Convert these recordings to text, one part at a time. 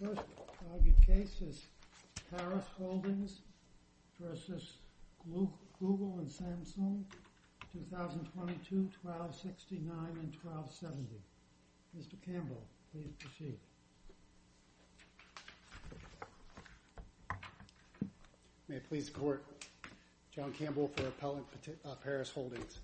My first argued case is Parus Holdings v. Google and Samsung, 2022, 1269 and 1270. Mr. Campbell, please proceed. May it please the Court, John Campbell for Appellant Parus Holdings.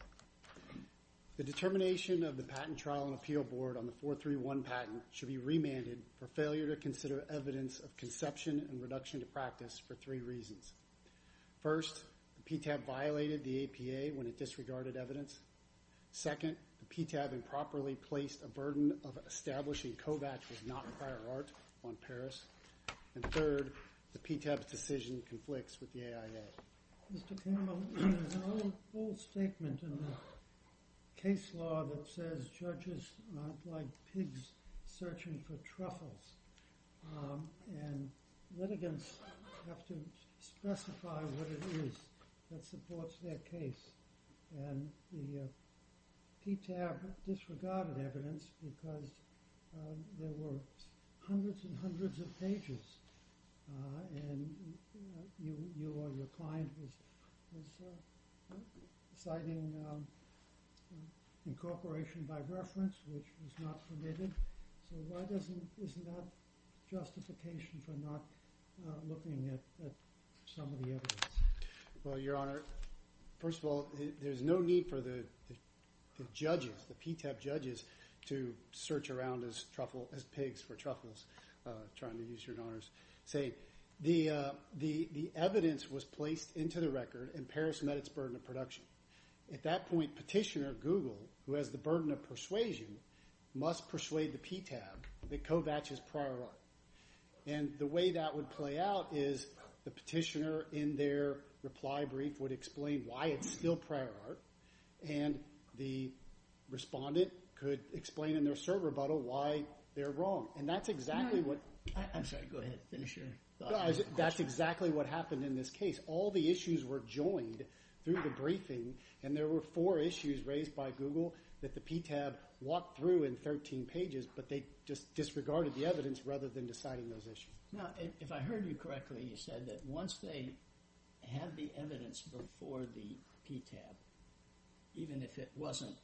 The determination of the Patent Trial and Appeal Board on the 431 patent should be remanded for failure to consider evidence of conception and reduction to practice for three reasons. First, the PTAB violated the APA when it disregarded evidence. Second, the PTAB improperly placed a burden of establishing Kovacs as not a prior art on Parus. And third, the PTAB's decision conflicts with the AIA. Mr. Campbell, there's an old statement in the case law that says judges aren't like pigs searching for truffles. And litigants have to specify what it is that supports their case. And the PTAB disregarded evidence because there were hundreds and hundreds of pages. And you or your client was citing incorporation by reference, which was not permitted. So why doesn't – isn't that justification for not looking at some of the evidence? Well, Your Honor, first of all, there's no need for the judges, the PTAB judges, to search around as truffle – as pigs for truffles, trying to use Your Honor's saying. The evidence was placed into the record and Parus met its burden of production. At that point, Petitioner Google, who has the burden of persuasion, must persuade the PTAB that Kovacs is prior art. And the way that would play out is the petitioner in their reply brief would explain why it's still prior art. And the respondent could explain in their cert rebuttal why they're wrong. And that's exactly what – I'm sorry. Go ahead. Finish your thought. That's exactly what happened in this case. All the issues were joined through the briefing, and there were four issues raised by Google that the PTAB walked through in 13 pages. But they just disregarded the evidence rather than deciding those issues. Now, if I heard you correctly, you said that once they had the evidence before the PTAB, even if it wasn't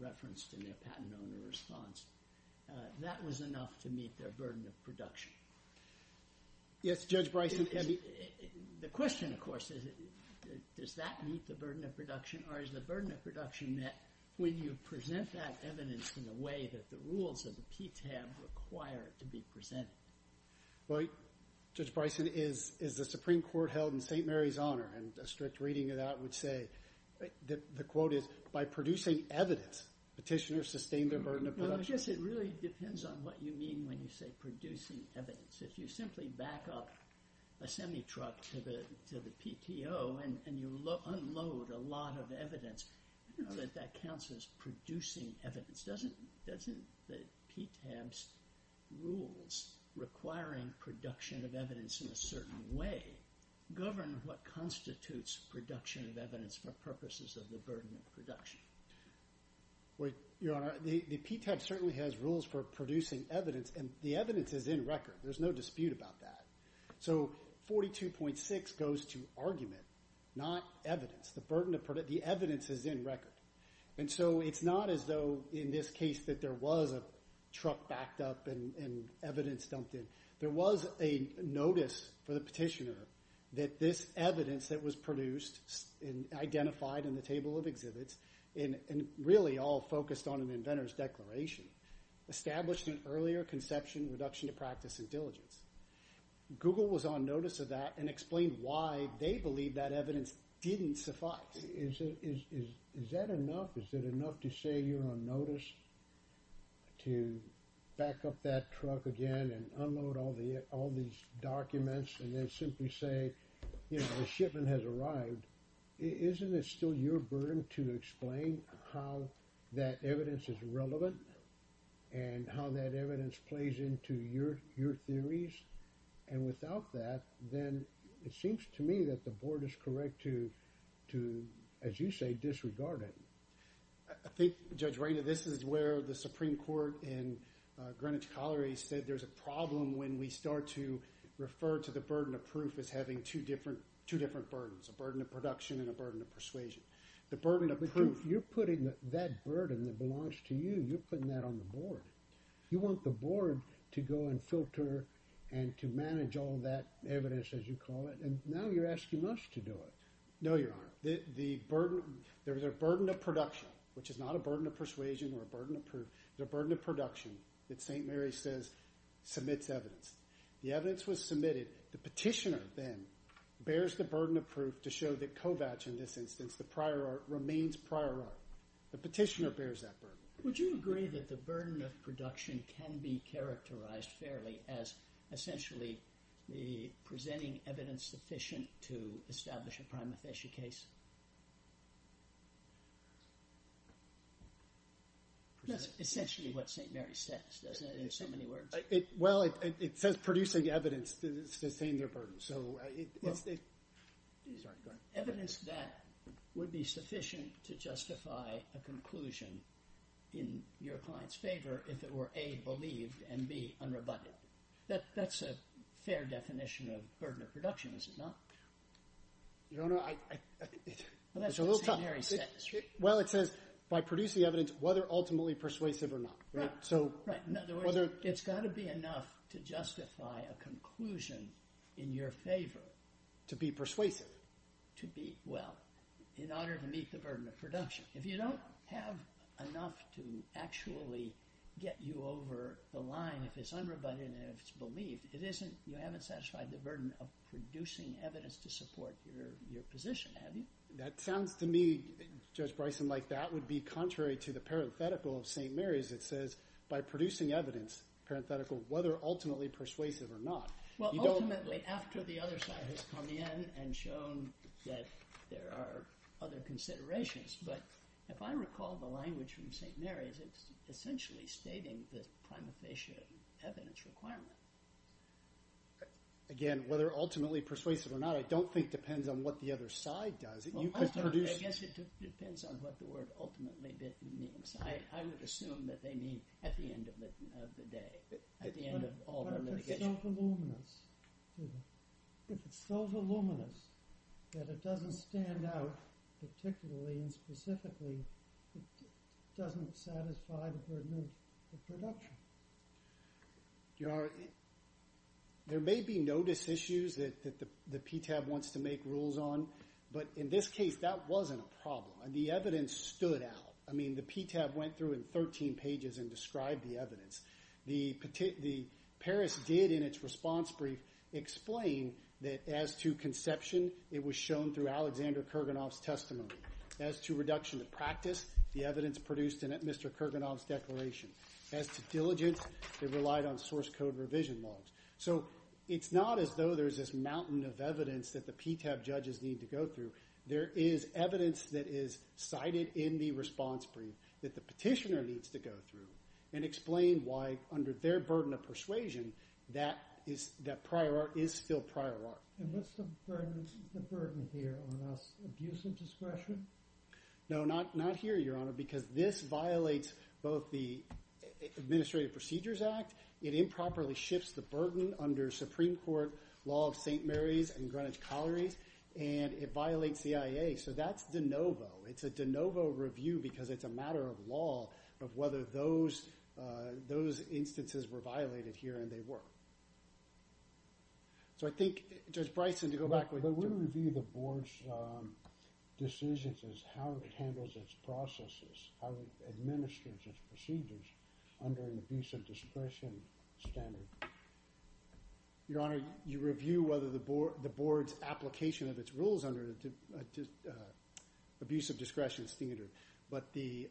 referenced in their patent owner response, that was enough to meet their burden of production. Yes, Judge Bryson. The question, of course, is does that meet the burden of production, or is the burden of production that when you present that evidence in a way that the rules of the PTAB require it to be presented? Well, Judge Bryson, is the Supreme Court held in St. Mary's honor? And a strict reading of that would say – the quote is, by producing evidence, petitioners sustain their burden of production. Well, I guess it really depends on what you mean when you say producing evidence. If you simply back up a semi-truck to the PTO and you unload a lot of evidence, that counts as producing evidence. Doesn't the PTAB's rules requiring production of evidence in a certain way govern what constitutes production of evidence for purposes of the burden of production? Your Honor, the PTAB certainly has rules for producing evidence, and the evidence is in record. There's no dispute about that. So 42.6 goes to argument, not evidence. The evidence is in record. And so it's not as though in this case that there was a truck backed up and evidence dumped in. There was a notice for the petitioner that this evidence that was produced and identified in the table of exhibits, and really all focused on an inventor's declaration, established an earlier conception of reduction to practice and diligence. Google was on notice of that and explained why they believe that evidence didn't suffice. Is that enough? Is it enough to say you're on notice to back up that truck again and unload all these documents and then simply say the shipment has arrived? Isn't it still your burden to explain how that evidence is relevant and how that evidence plays into your theories? And without that, then it seems to me that the board is correct to, as you say, disregard it. I think, Judge Raina, this is where the Supreme Court in Greenwich Colliery said there's a problem when we start to refer to the burden of proof as having two different burdens, a burden of production and a burden of persuasion. The burden of proof— But you're putting that burden that belongs to you, you're putting that on the board. You want the board to go and filter and to manage all that evidence, as you call it, and now you're asking us to do it. No, Your Honor. The burden—there's a burden of production, which is not a burden of persuasion or a burden of proof. There's a burden of production that St. Mary's says submits evidence. The evidence was submitted. The petitioner then bears the burden of proof to show that Kovacs, in this instance, the prior art, remains prior art. The petitioner bears that burden. Would you agree that the burden of production can be characterized fairly as essentially presenting evidence sufficient to establish a prima facie case? That's essentially what St. Mary's says, doesn't it, in so many words? Well, it says producing evidence to sustain their burden. Evidence that would be sufficient to justify a conclusion in your client's favor if it were A, believed, and B, unrebutted. That's a fair definition of burden of production, is it not? Your Honor, I— Well, that's what St. Mary's says. Well, it says by producing evidence, whether ultimately persuasive or not. In other words, it's got to be enough to justify a conclusion in your favor. To be persuasive. Well, in order to meet the burden of production. If you don't have enough to actually get you over the line if it's unrebutted and if it's believed, you haven't satisfied the burden of producing evidence to support your position, have you? That sounds to me, Judge Bryson, like that would be contrary to the parenthetical of St. Mary's that says by producing evidence, parenthetical, whether ultimately persuasive or not. Well, ultimately, after the other side has come in and shown that there are other considerations. But if I recall the language from St. Mary's, it's essentially stating the prima facie evidence requirement. Again, whether ultimately persuasive or not, I don't think depends on what the other side does. I guess it depends on what the word ultimately means. I would assume that they mean at the end of the day, at the end of all the litigation. But if it's so voluminous, if it's so voluminous that it doesn't stand out particularly and specifically, it doesn't satisfy the burden of production. Your Honor, there may be notice issues that the PTAB wants to make rules on. But in this case, that wasn't a problem. The evidence stood out. I mean, the PTAB went through in 13 pages and described the evidence. The Paris did in its response brief explain that as to conception, it was shown through Alexander Kurganov's testimony. As to reduction of practice, the evidence produced in Mr. Kurganov's declaration. As to diligence, it relied on source code revision laws. So it's not as though there's this mountain of evidence that the PTAB judges need to go through. There is evidence that is cited in the response brief that the petitioner needs to go through and explain why under their burden of persuasion, that prior art is still prior art. And what's the burden here on us? Abuse of discretion? No, not here, Your Honor, because this violates both the Administrative Procedures Act. It improperly shifts the burden under Supreme Court law of St. Mary's and Greenwich Collieries. And it violates the CIA. So that's de novo. It's a de novo review because it's a matter of law of whether those instances were violated here and they were. So I think, Judge Bryson, to go back with you. I would review the board's decisions as how it handles its processes, how it administers its procedures under an abuse of discretion standard. Your Honor, you review whether the board's application of its rules under an abuse of discretion standard. But the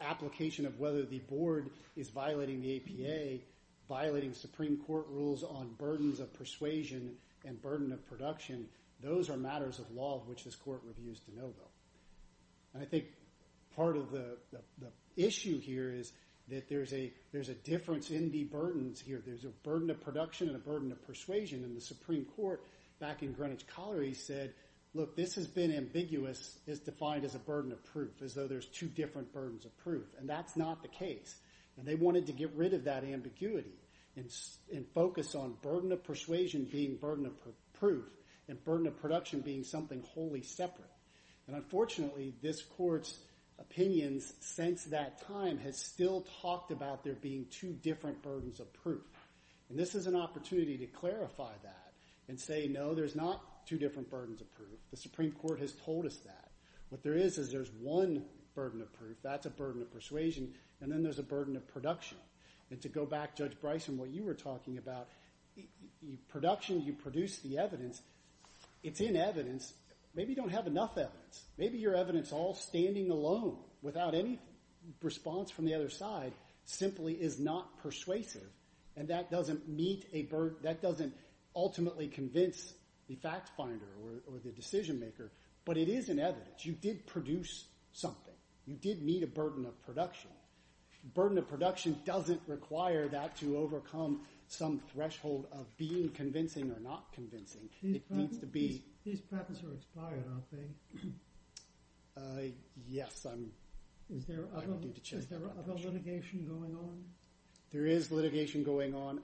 application of whether the board is violating the APA, violating Supreme Court rules on burdens of persuasion and burden of production, those are matters of law of which this court reviews de novo. And I think part of the issue here is that there's a difference in the burdens here. There's a burden of production and a burden of persuasion. And the Supreme Court back in Greenwich Collieries said, look, this has been ambiguous. It's defined as a burden of proof, as though there's two different burdens of proof. And that's not the case. And they wanted to get rid of that ambiguity and focus on burden of persuasion being burden of proof and burden of production being something wholly separate. And unfortunately, this court's opinions since that time has still talked about there being two different burdens of proof. And this is an opportunity to clarify that and say, no, there's not two different burdens of proof. The Supreme Court has told us that. What there is is there's one burden of proof. That's a burden of persuasion. And then there's a burden of production. And to go back, Judge Bryson, what you were talking about, production, you produce the evidence. It's in evidence. Maybe you don't have enough evidence. Maybe your evidence all standing alone without any response from the other side simply is not persuasive. And that doesn't ultimately convince the fact finder or the decision maker. But it is in evidence. You did produce something. You did meet a burden of production. Burden of production doesn't require that to overcome some threshold of being convincing or not convincing. These patents are expired, aren't they? Yes. Is there other litigation going on? There is litigation going on.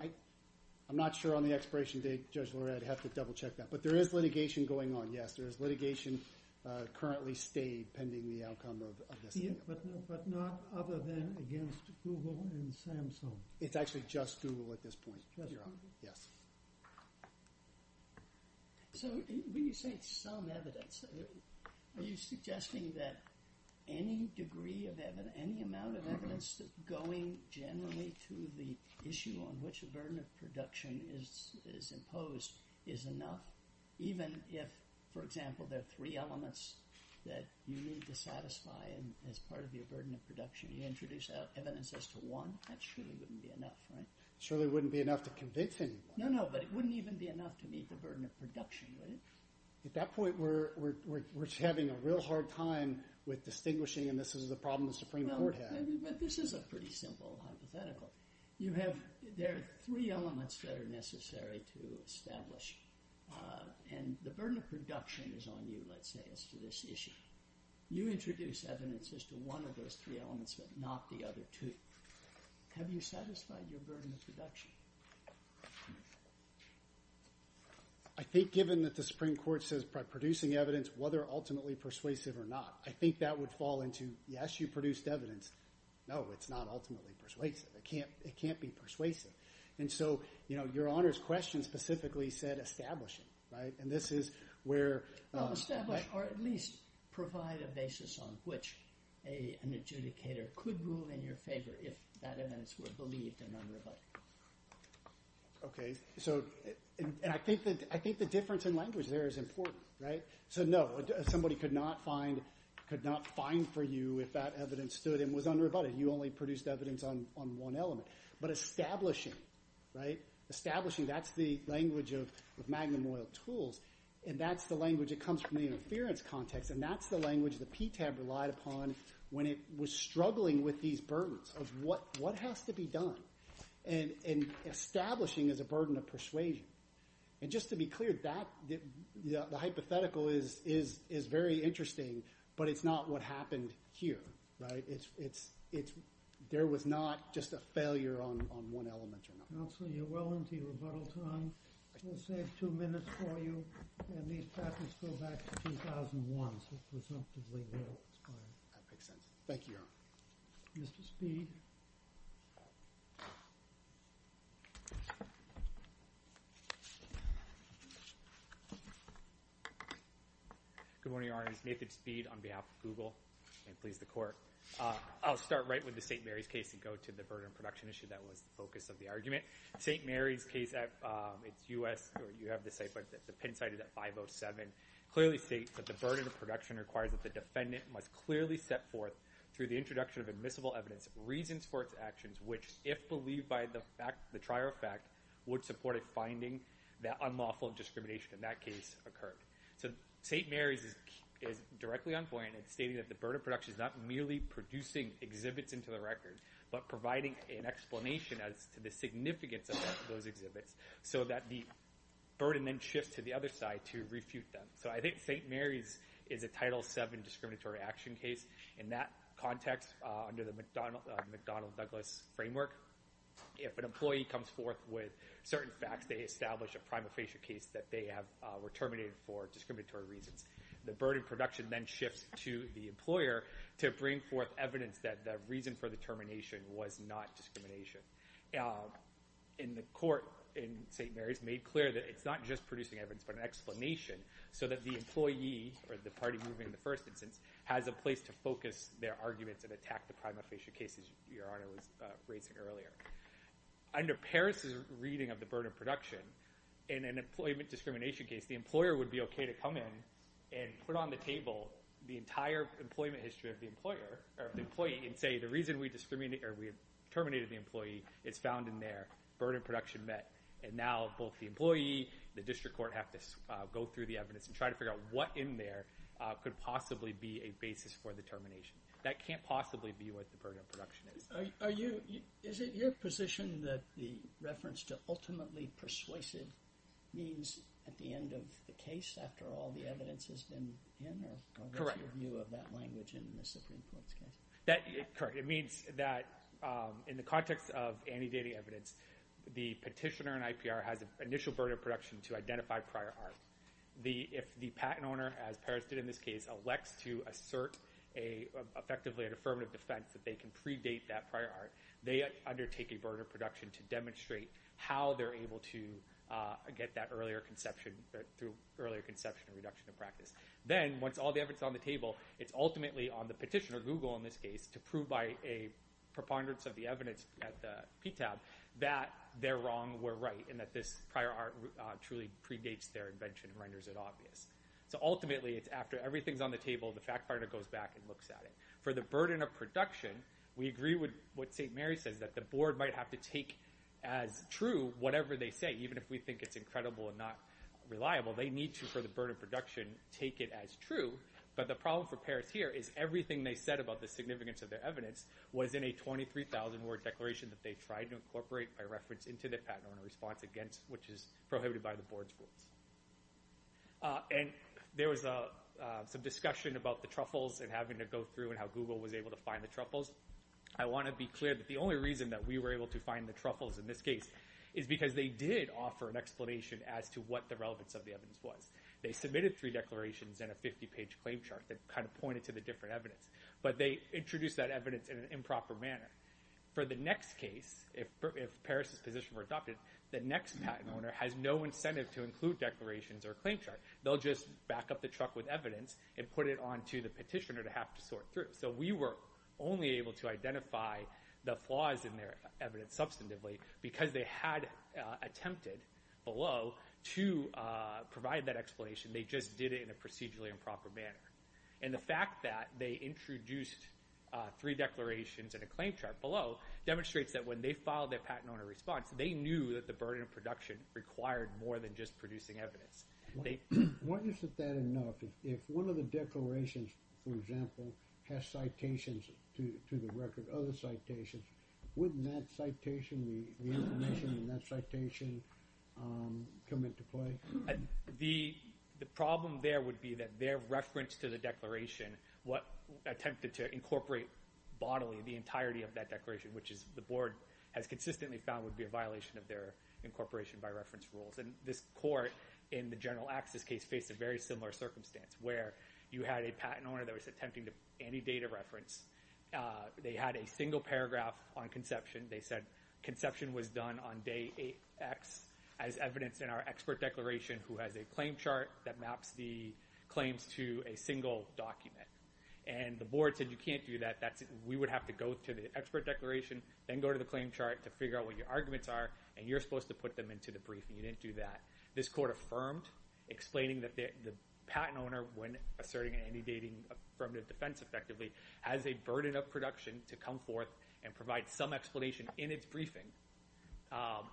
I'm not sure on the expiration date, Judge Lared, I'd have to double check that. But there is litigation going on, yes. There is litigation currently stayed pending the outcome of this. But not other than against Google and Samsung? It's actually just Google at this point. Just Google? Yes. So when you say some evidence, are you suggesting that any degree of evidence, any amount of evidence going generally to the issue on which a burden of production is imposed is enough? Even if, for example, there are three elements that you need to satisfy as part of your burden of production. You introduce evidence as to one. That surely wouldn't be enough, right? Surely it wouldn't be enough to convince anyone. No, no, but it wouldn't even be enough to meet the burden of production, would it? At that point, we're having a real hard time with distinguishing, and this is the problem the Supreme Court has. No, but this is a pretty simple hypothetical. You have – there are three elements that are necessary to establish. And the burden of production is on you, let's say, as to this issue. You introduce evidence as to one of those three elements but not the other two. Have you satisfied your burden of production? I think given that the Supreme Court says producing evidence, whether ultimately persuasive or not, I think that would fall into, yes, you produced evidence. No, it's not ultimately persuasive. It can't be persuasive. And so, you know, Your Honor's question specifically said establishing, right? Well, establish or at least provide a basis on which an adjudicator could move in your favor if that evidence were believed and unrebutted. Okay, so – and I think the difference in language there is important, right? So, no, somebody could not find – could not find for you if that evidence stood and was unrebutted. You only produced evidence on one element. But establishing, right? Establishing, that's the language of Magnum Oil Tools, and that's the language that comes from the interference context, and that's the language that PTAB relied upon when it was struggling with these burdens of what has to be done. And establishing is a burden of persuasion. And just to be clear, that – the hypothetical is very interesting, but it's not what happened here, right? It's – there was not just a failure on one element or another. Counsel, you're well into your rebuttal time. We'll save two minutes for you. And these patents go back to 2001, so it presumptively will expire. That makes sense. Thank you, Your Honor. Mr. Speed. Good morning, Your Honor. It's Nathan Speed on behalf of Google, and please, the Court. I'll start right with the St. Mary's case and go to the burden of production issue that was the focus of the argument. St. Mary's case, it's U.S. – you have the site, but the Penn site is at 507. It clearly states that the burden of production requires that the defendant must clearly set forth, through the introduction of admissible evidence, reasons for its actions, which if believed by the fact – the trier of fact, would support a finding that unlawful discrimination in that case occurred. So St. Mary's is directly on point in stating that the burden of production is not merely producing exhibits into the record, but providing an explanation as to the significance of those exhibits, so that the burden then shifts to the other side to refute them. So I think St. Mary's is a Title VII discriminatory action case. In that context, under the McDonald-Douglas framework, if an employee comes forth with certain facts, they establish a prima facie case that they were terminated for discriminatory reasons. The burden of production then shifts to the employer to bring forth evidence that the reason for the termination was not discrimination. And the court in St. Mary's made clear that it's not just producing evidence, but an explanation so that the employee, or the party moving the first instance, has a place to focus their arguments and attack the prima facie cases Your Honor was raising earlier. Under Paris' reading of the burden of production, in an employment discrimination case, the employer would be okay to come in and put on the table the entire employment history of the employee and say the reason we terminated the employee is found in there. Burden of production met. And now both the employee and the district court have to go through the evidence and try to figure out what in there could possibly be a basis for the termination. That can't possibly be what the burden of production is. Is it your position that the reference to ultimately persuasive means at the end of the case, after all the evidence has been in, or what's your view of that language in the Supreme Court's case? Correct. It means that in the context of anti-dating evidence, the petitioner in IPR has initial burden of production to identify prior art. If the patent owner, as Paris did in this case, elects to assert effectively an affirmative defense that they can predate that prior art, they undertake a burden of production to demonstrate how they're able to get that earlier conception, through earlier conception and reduction of practice. Then once all the evidence is on the table, it's ultimately on the petitioner, Google in this case, to prove by a preponderance of the evidence at the PTAB that they're wrong, we're right, and that this prior art truly predates their invention and renders it obvious. So ultimately it's after everything's on the table, the fact finder goes back and looks at it. For the burden of production, we agree with what St. Mary says, that the board might have to take as true whatever they say, even if we think it's incredible and not reliable. They need to, for the burden of production, take it as true. But the problem for Paris here is everything they said about the significance of their evidence was in a 23,000-word declaration that they tried to incorporate by reference into the patent owner's response against, which is prohibited by the board's rules. There was some discussion about the truffles and having to go through and how Google was able to find the truffles. I want to be clear that the only reason that we were able to find the truffles in this case is because they did offer an explanation as to what the relevance of the evidence was. They submitted three declarations and a 50-page claim chart that kind of pointed to the different evidence. But they introduced that evidence in an improper manner. For the next case, if Paris' position were adopted, the next patent owner has no incentive to include declarations or a claim chart. They'll just back up the truck with evidence and put it onto the petitioner to have to sort through. So we were only able to identify the flaws in their evidence substantively because they had attempted below to provide that explanation. They just did it in a procedurally improper manner. And the fact that they introduced three declarations and a claim chart below demonstrates that when they filed their patent owner response, they knew that the burden of production required more than just producing evidence. Why isn't that enough? If one of the declarations, for example, has citations to the record, other citations, wouldn't that citation, the information in that citation, come into play? The problem there would be that their reference to the declaration, what attempted to incorporate bodily the entirety of that declaration, which the board has consistently found would be a violation of their incorporation by reference rules. And this court in the General Access case faced a very similar circumstance where you had a patent owner that was attempting to anti-data reference. They had a single paragraph on conception. They said conception was done on day X as evidenced in our expert declaration who has a claim chart that maps the claims to a single document. And the board said you can't do that. We would have to go to the expert declaration, then go to the claim chart to figure out what your arguments are, and you're supposed to put them into the briefing. You didn't do that. This court affirmed, explaining that the patent owner, when asserting an anti-dating affirmative defense effectively, has a burden of production to come forth and provide some explanation in its briefing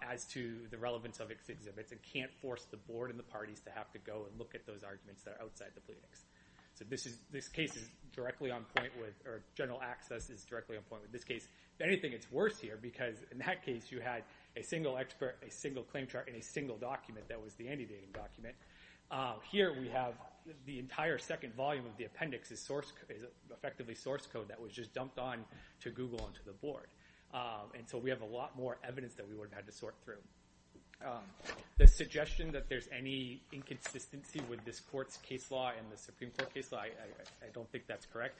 as to the relevance of its exhibits and can't force the board and the parties to have to go and look at those arguments that are outside the pleadings. So this case is directly on point with, or General Access is directly on point with this case. If anything, it's worse here because in that case you had a single expert, a single claim chart, and a single document that was the anti-dating document. Here we have the entire second volume of the appendix is effectively source code that was just dumped on to Google and to the board. And so we have a lot more evidence that we would have had to sort through. The suggestion that there's any inconsistency with this court's case law and the Supreme Court case law, I don't think that's correct.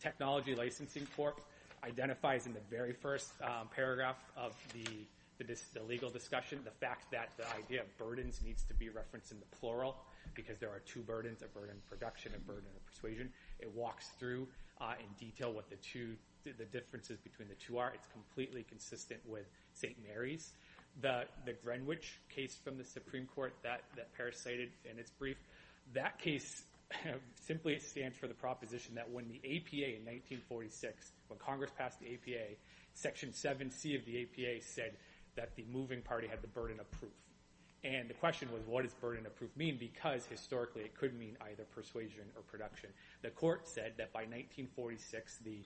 Technology Licensing Court identifies in the very first paragraph of the legal discussion the fact that the idea of burdens needs to be referenced in the plural because there are two burdens, a burden of production and a burden of persuasion. It walks through in detail what the differences between the two are. It's completely consistent with St. Mary's. The Greenwich case from the Supreme Court that Parris cited in its brief, that case simply stands for the proposition that when the APA in 1946, when Congress passed the APA, Section 7C of the APA said that the moving party had the burden of proof. And the question was what does burden of proof mean because historically it could mean either persuasion or production. The court said that by 1946 the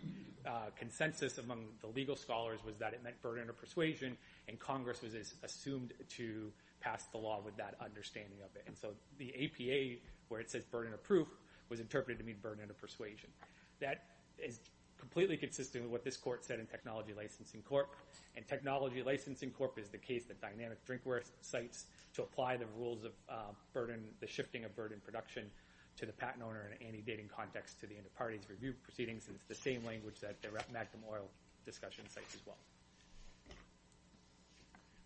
consensus among the legal scholars was that it meant burden of persuasion and Congress was assumed to pass the law with that understanding of it. And so the APA, where it says burden of proof, was interpreted to mean burden of persuasion. That is completely consistent with what this court said in Technology Licensing Court. And Technology Licensing Court is the case that Dynamic Drinkware cites to apply the rules of burden, the shifting of burden of production to the patent owner in an anti-dating context to the end of parties review proceedings. And it's the same language that the Magnum Oil discussion cites as well.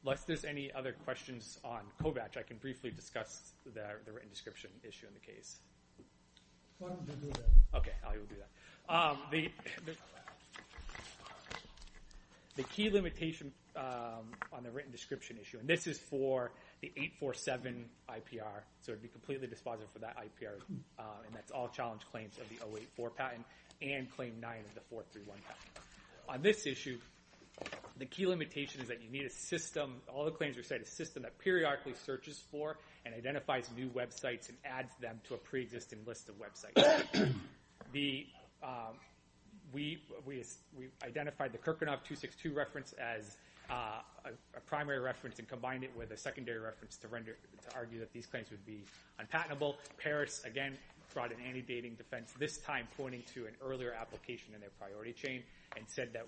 Unless there's any other questions on Kovacs, I can briefly discuss the written description issue in the case. Okay, I will do that. The key limitation on the written description issue, and this is for the 847 IPR, so it would be completely dispositive for that IPR, and that's all challenge claims of the 084 patent and claim 9 of the 431 patent. On this issue, the key limitation is that you need a system, all the claims are set in a system that periodically searches for and identifies new websites and adds them to a pre-existing list of websites. We identified the Kirkunov 262 reference as a primary reference and combined it with a secondary reference to argue that these claims would be unpatentable. Paris, again, brought an anti-dating defense, this time pointing to an earlier application in their priority chain and said that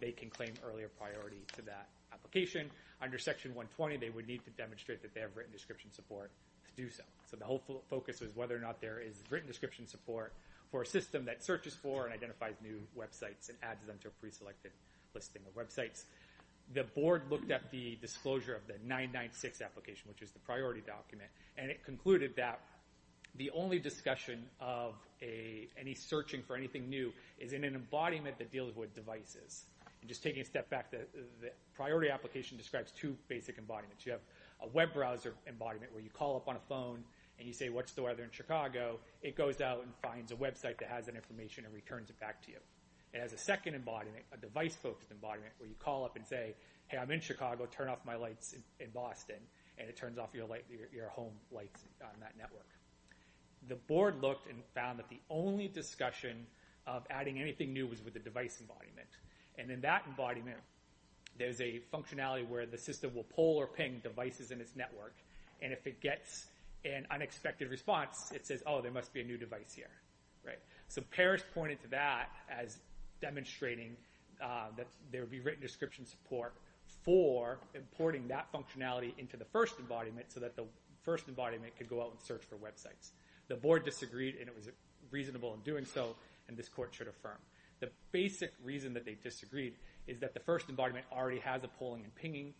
they can claim earlier priority to that application. Under Section 120, they would need to demonstrate that they have written description support to do so. So the whole focus was whether or not there is written description support for a system that searches for and identifies new websites and adds them to a pre-selected listing of websites. The board looked at the disclosure of the 996 application, which is the priority document, and it concluded that the only discussion of any searching for anything new is in an embodiment that deals with devices. Just taking a step back, the priority application describes two basic embodiments. You have a web browser embodiment where you call up on a phone and you say, what's the weather in Chicago? It goes out and finds a website that has that information and returns it back to you. It has a second embodiment, a device-focused embodiment, where you call up and say, hey, I'm in Chicago, turn off my lights in Boston, and it turns off your home lights on that network. The board looked and found that the only discussion of adding anything new was with the device embodiment, and in that embodiment there's a functionality where the system will pull or ping devices in its network, and if it gets an unexpected response, it says, oh, there must be a new device here. So Parrish pointed to that as demonstrating that there would be written description support for importing that functionality into the first embodiment so that the first embodiment could go out and search for websites. The board disagreed, and it was reasonable in doing so, and this court should affirm. The basic reason that they disagreed is that the first embodiment already has a pulling and pinging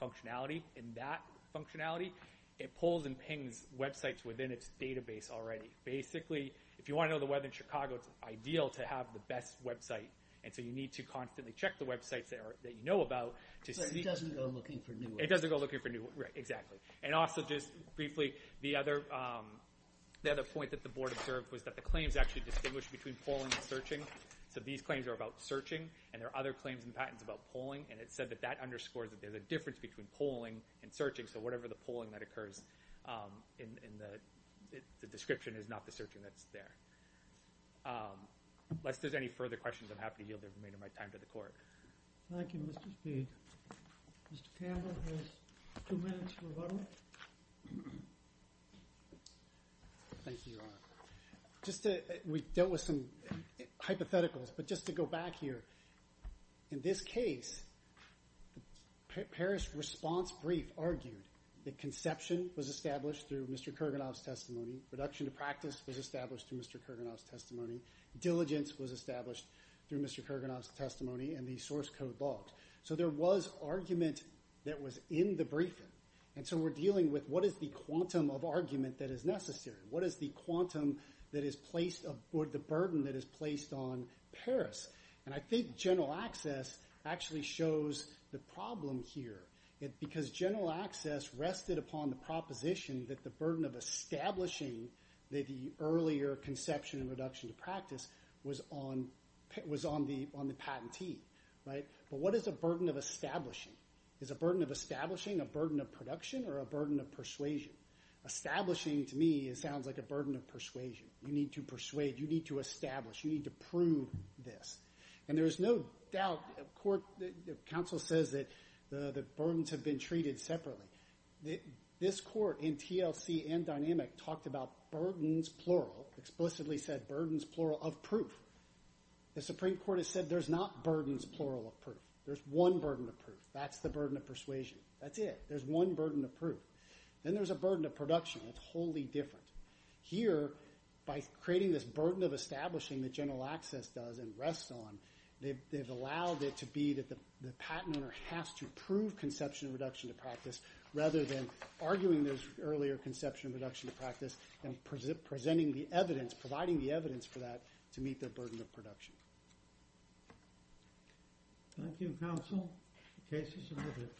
functionality, and that functionality, it pulls and pings websites within its database already. Basically, if you want to know the weather in Chicago, it's ideal to have the best website, and so you need to constantly check the websites that you know about. But it doesn't go looking for new ones. It doesn't go looking for new ones, right, exactly. And also just briefly, the other point that the board observed was that the claims actually distinguish between pulling and searching. So these claims are about searching, and there are other claims and patents about pulling, and it said that that underscores that there's a difference between pulling and searching. So whatever the pulling that occurs in the description is not the searching that's there. Unless there's any further questions, I'm happy to yield the remainder of my time to the court. Thank you, Mr. Speed. Mr. Campbell has two minutes for rebuttal. Thank you, Your Honor. We dealt with some hypotheticals, but just to go back here, in this case, Parrish's response brief argued that conception was established through Mr. Kurganov's testimony, reduction to practice was established through Mr. Kurganov's testimony, diligence was established through Mr. Kurganov's testimony, and the source code bogged. So there was argument that was in the briefing. And so we're dealing with what is the quantum of argument that is necessary? What is the quantum that is placed, or the burden that is placed on Parrish? And I think general access actually shows the problem here, because general access rested upon the proposition that the burden of establishing the earlier conception of reduction to practice was on the patentee. But what is a burden of establishing? Is a burden of establishing a burden of production or a burden of persuasion? Establishing, to me, sounds like a burden of persuasion. You need to persuade, you need to establish, you need to prove this. And there is no doubt, counsel says that the burdens have been treated separately. This court, in TLC and dynamic, talked about burdens, plural, explicitly said burdens, plural, of proof. The Supreme Court has said there's not burdens, plural, of proof. There's one burden of proof. That's the burden of persuasion. That's it. There's one burden of proof. Then there's a burden of production. It's wholly different. Here, by creating this burden of establishing that general access does and rests on, they've allowed it to be that the patent owner has to prove conception of reduction to practice rather than arguing those earlier conception of reduction to practice and presenting the evidence, providing the evidence for that to meet their burden of production. Thank you, counsel. The case is submitted.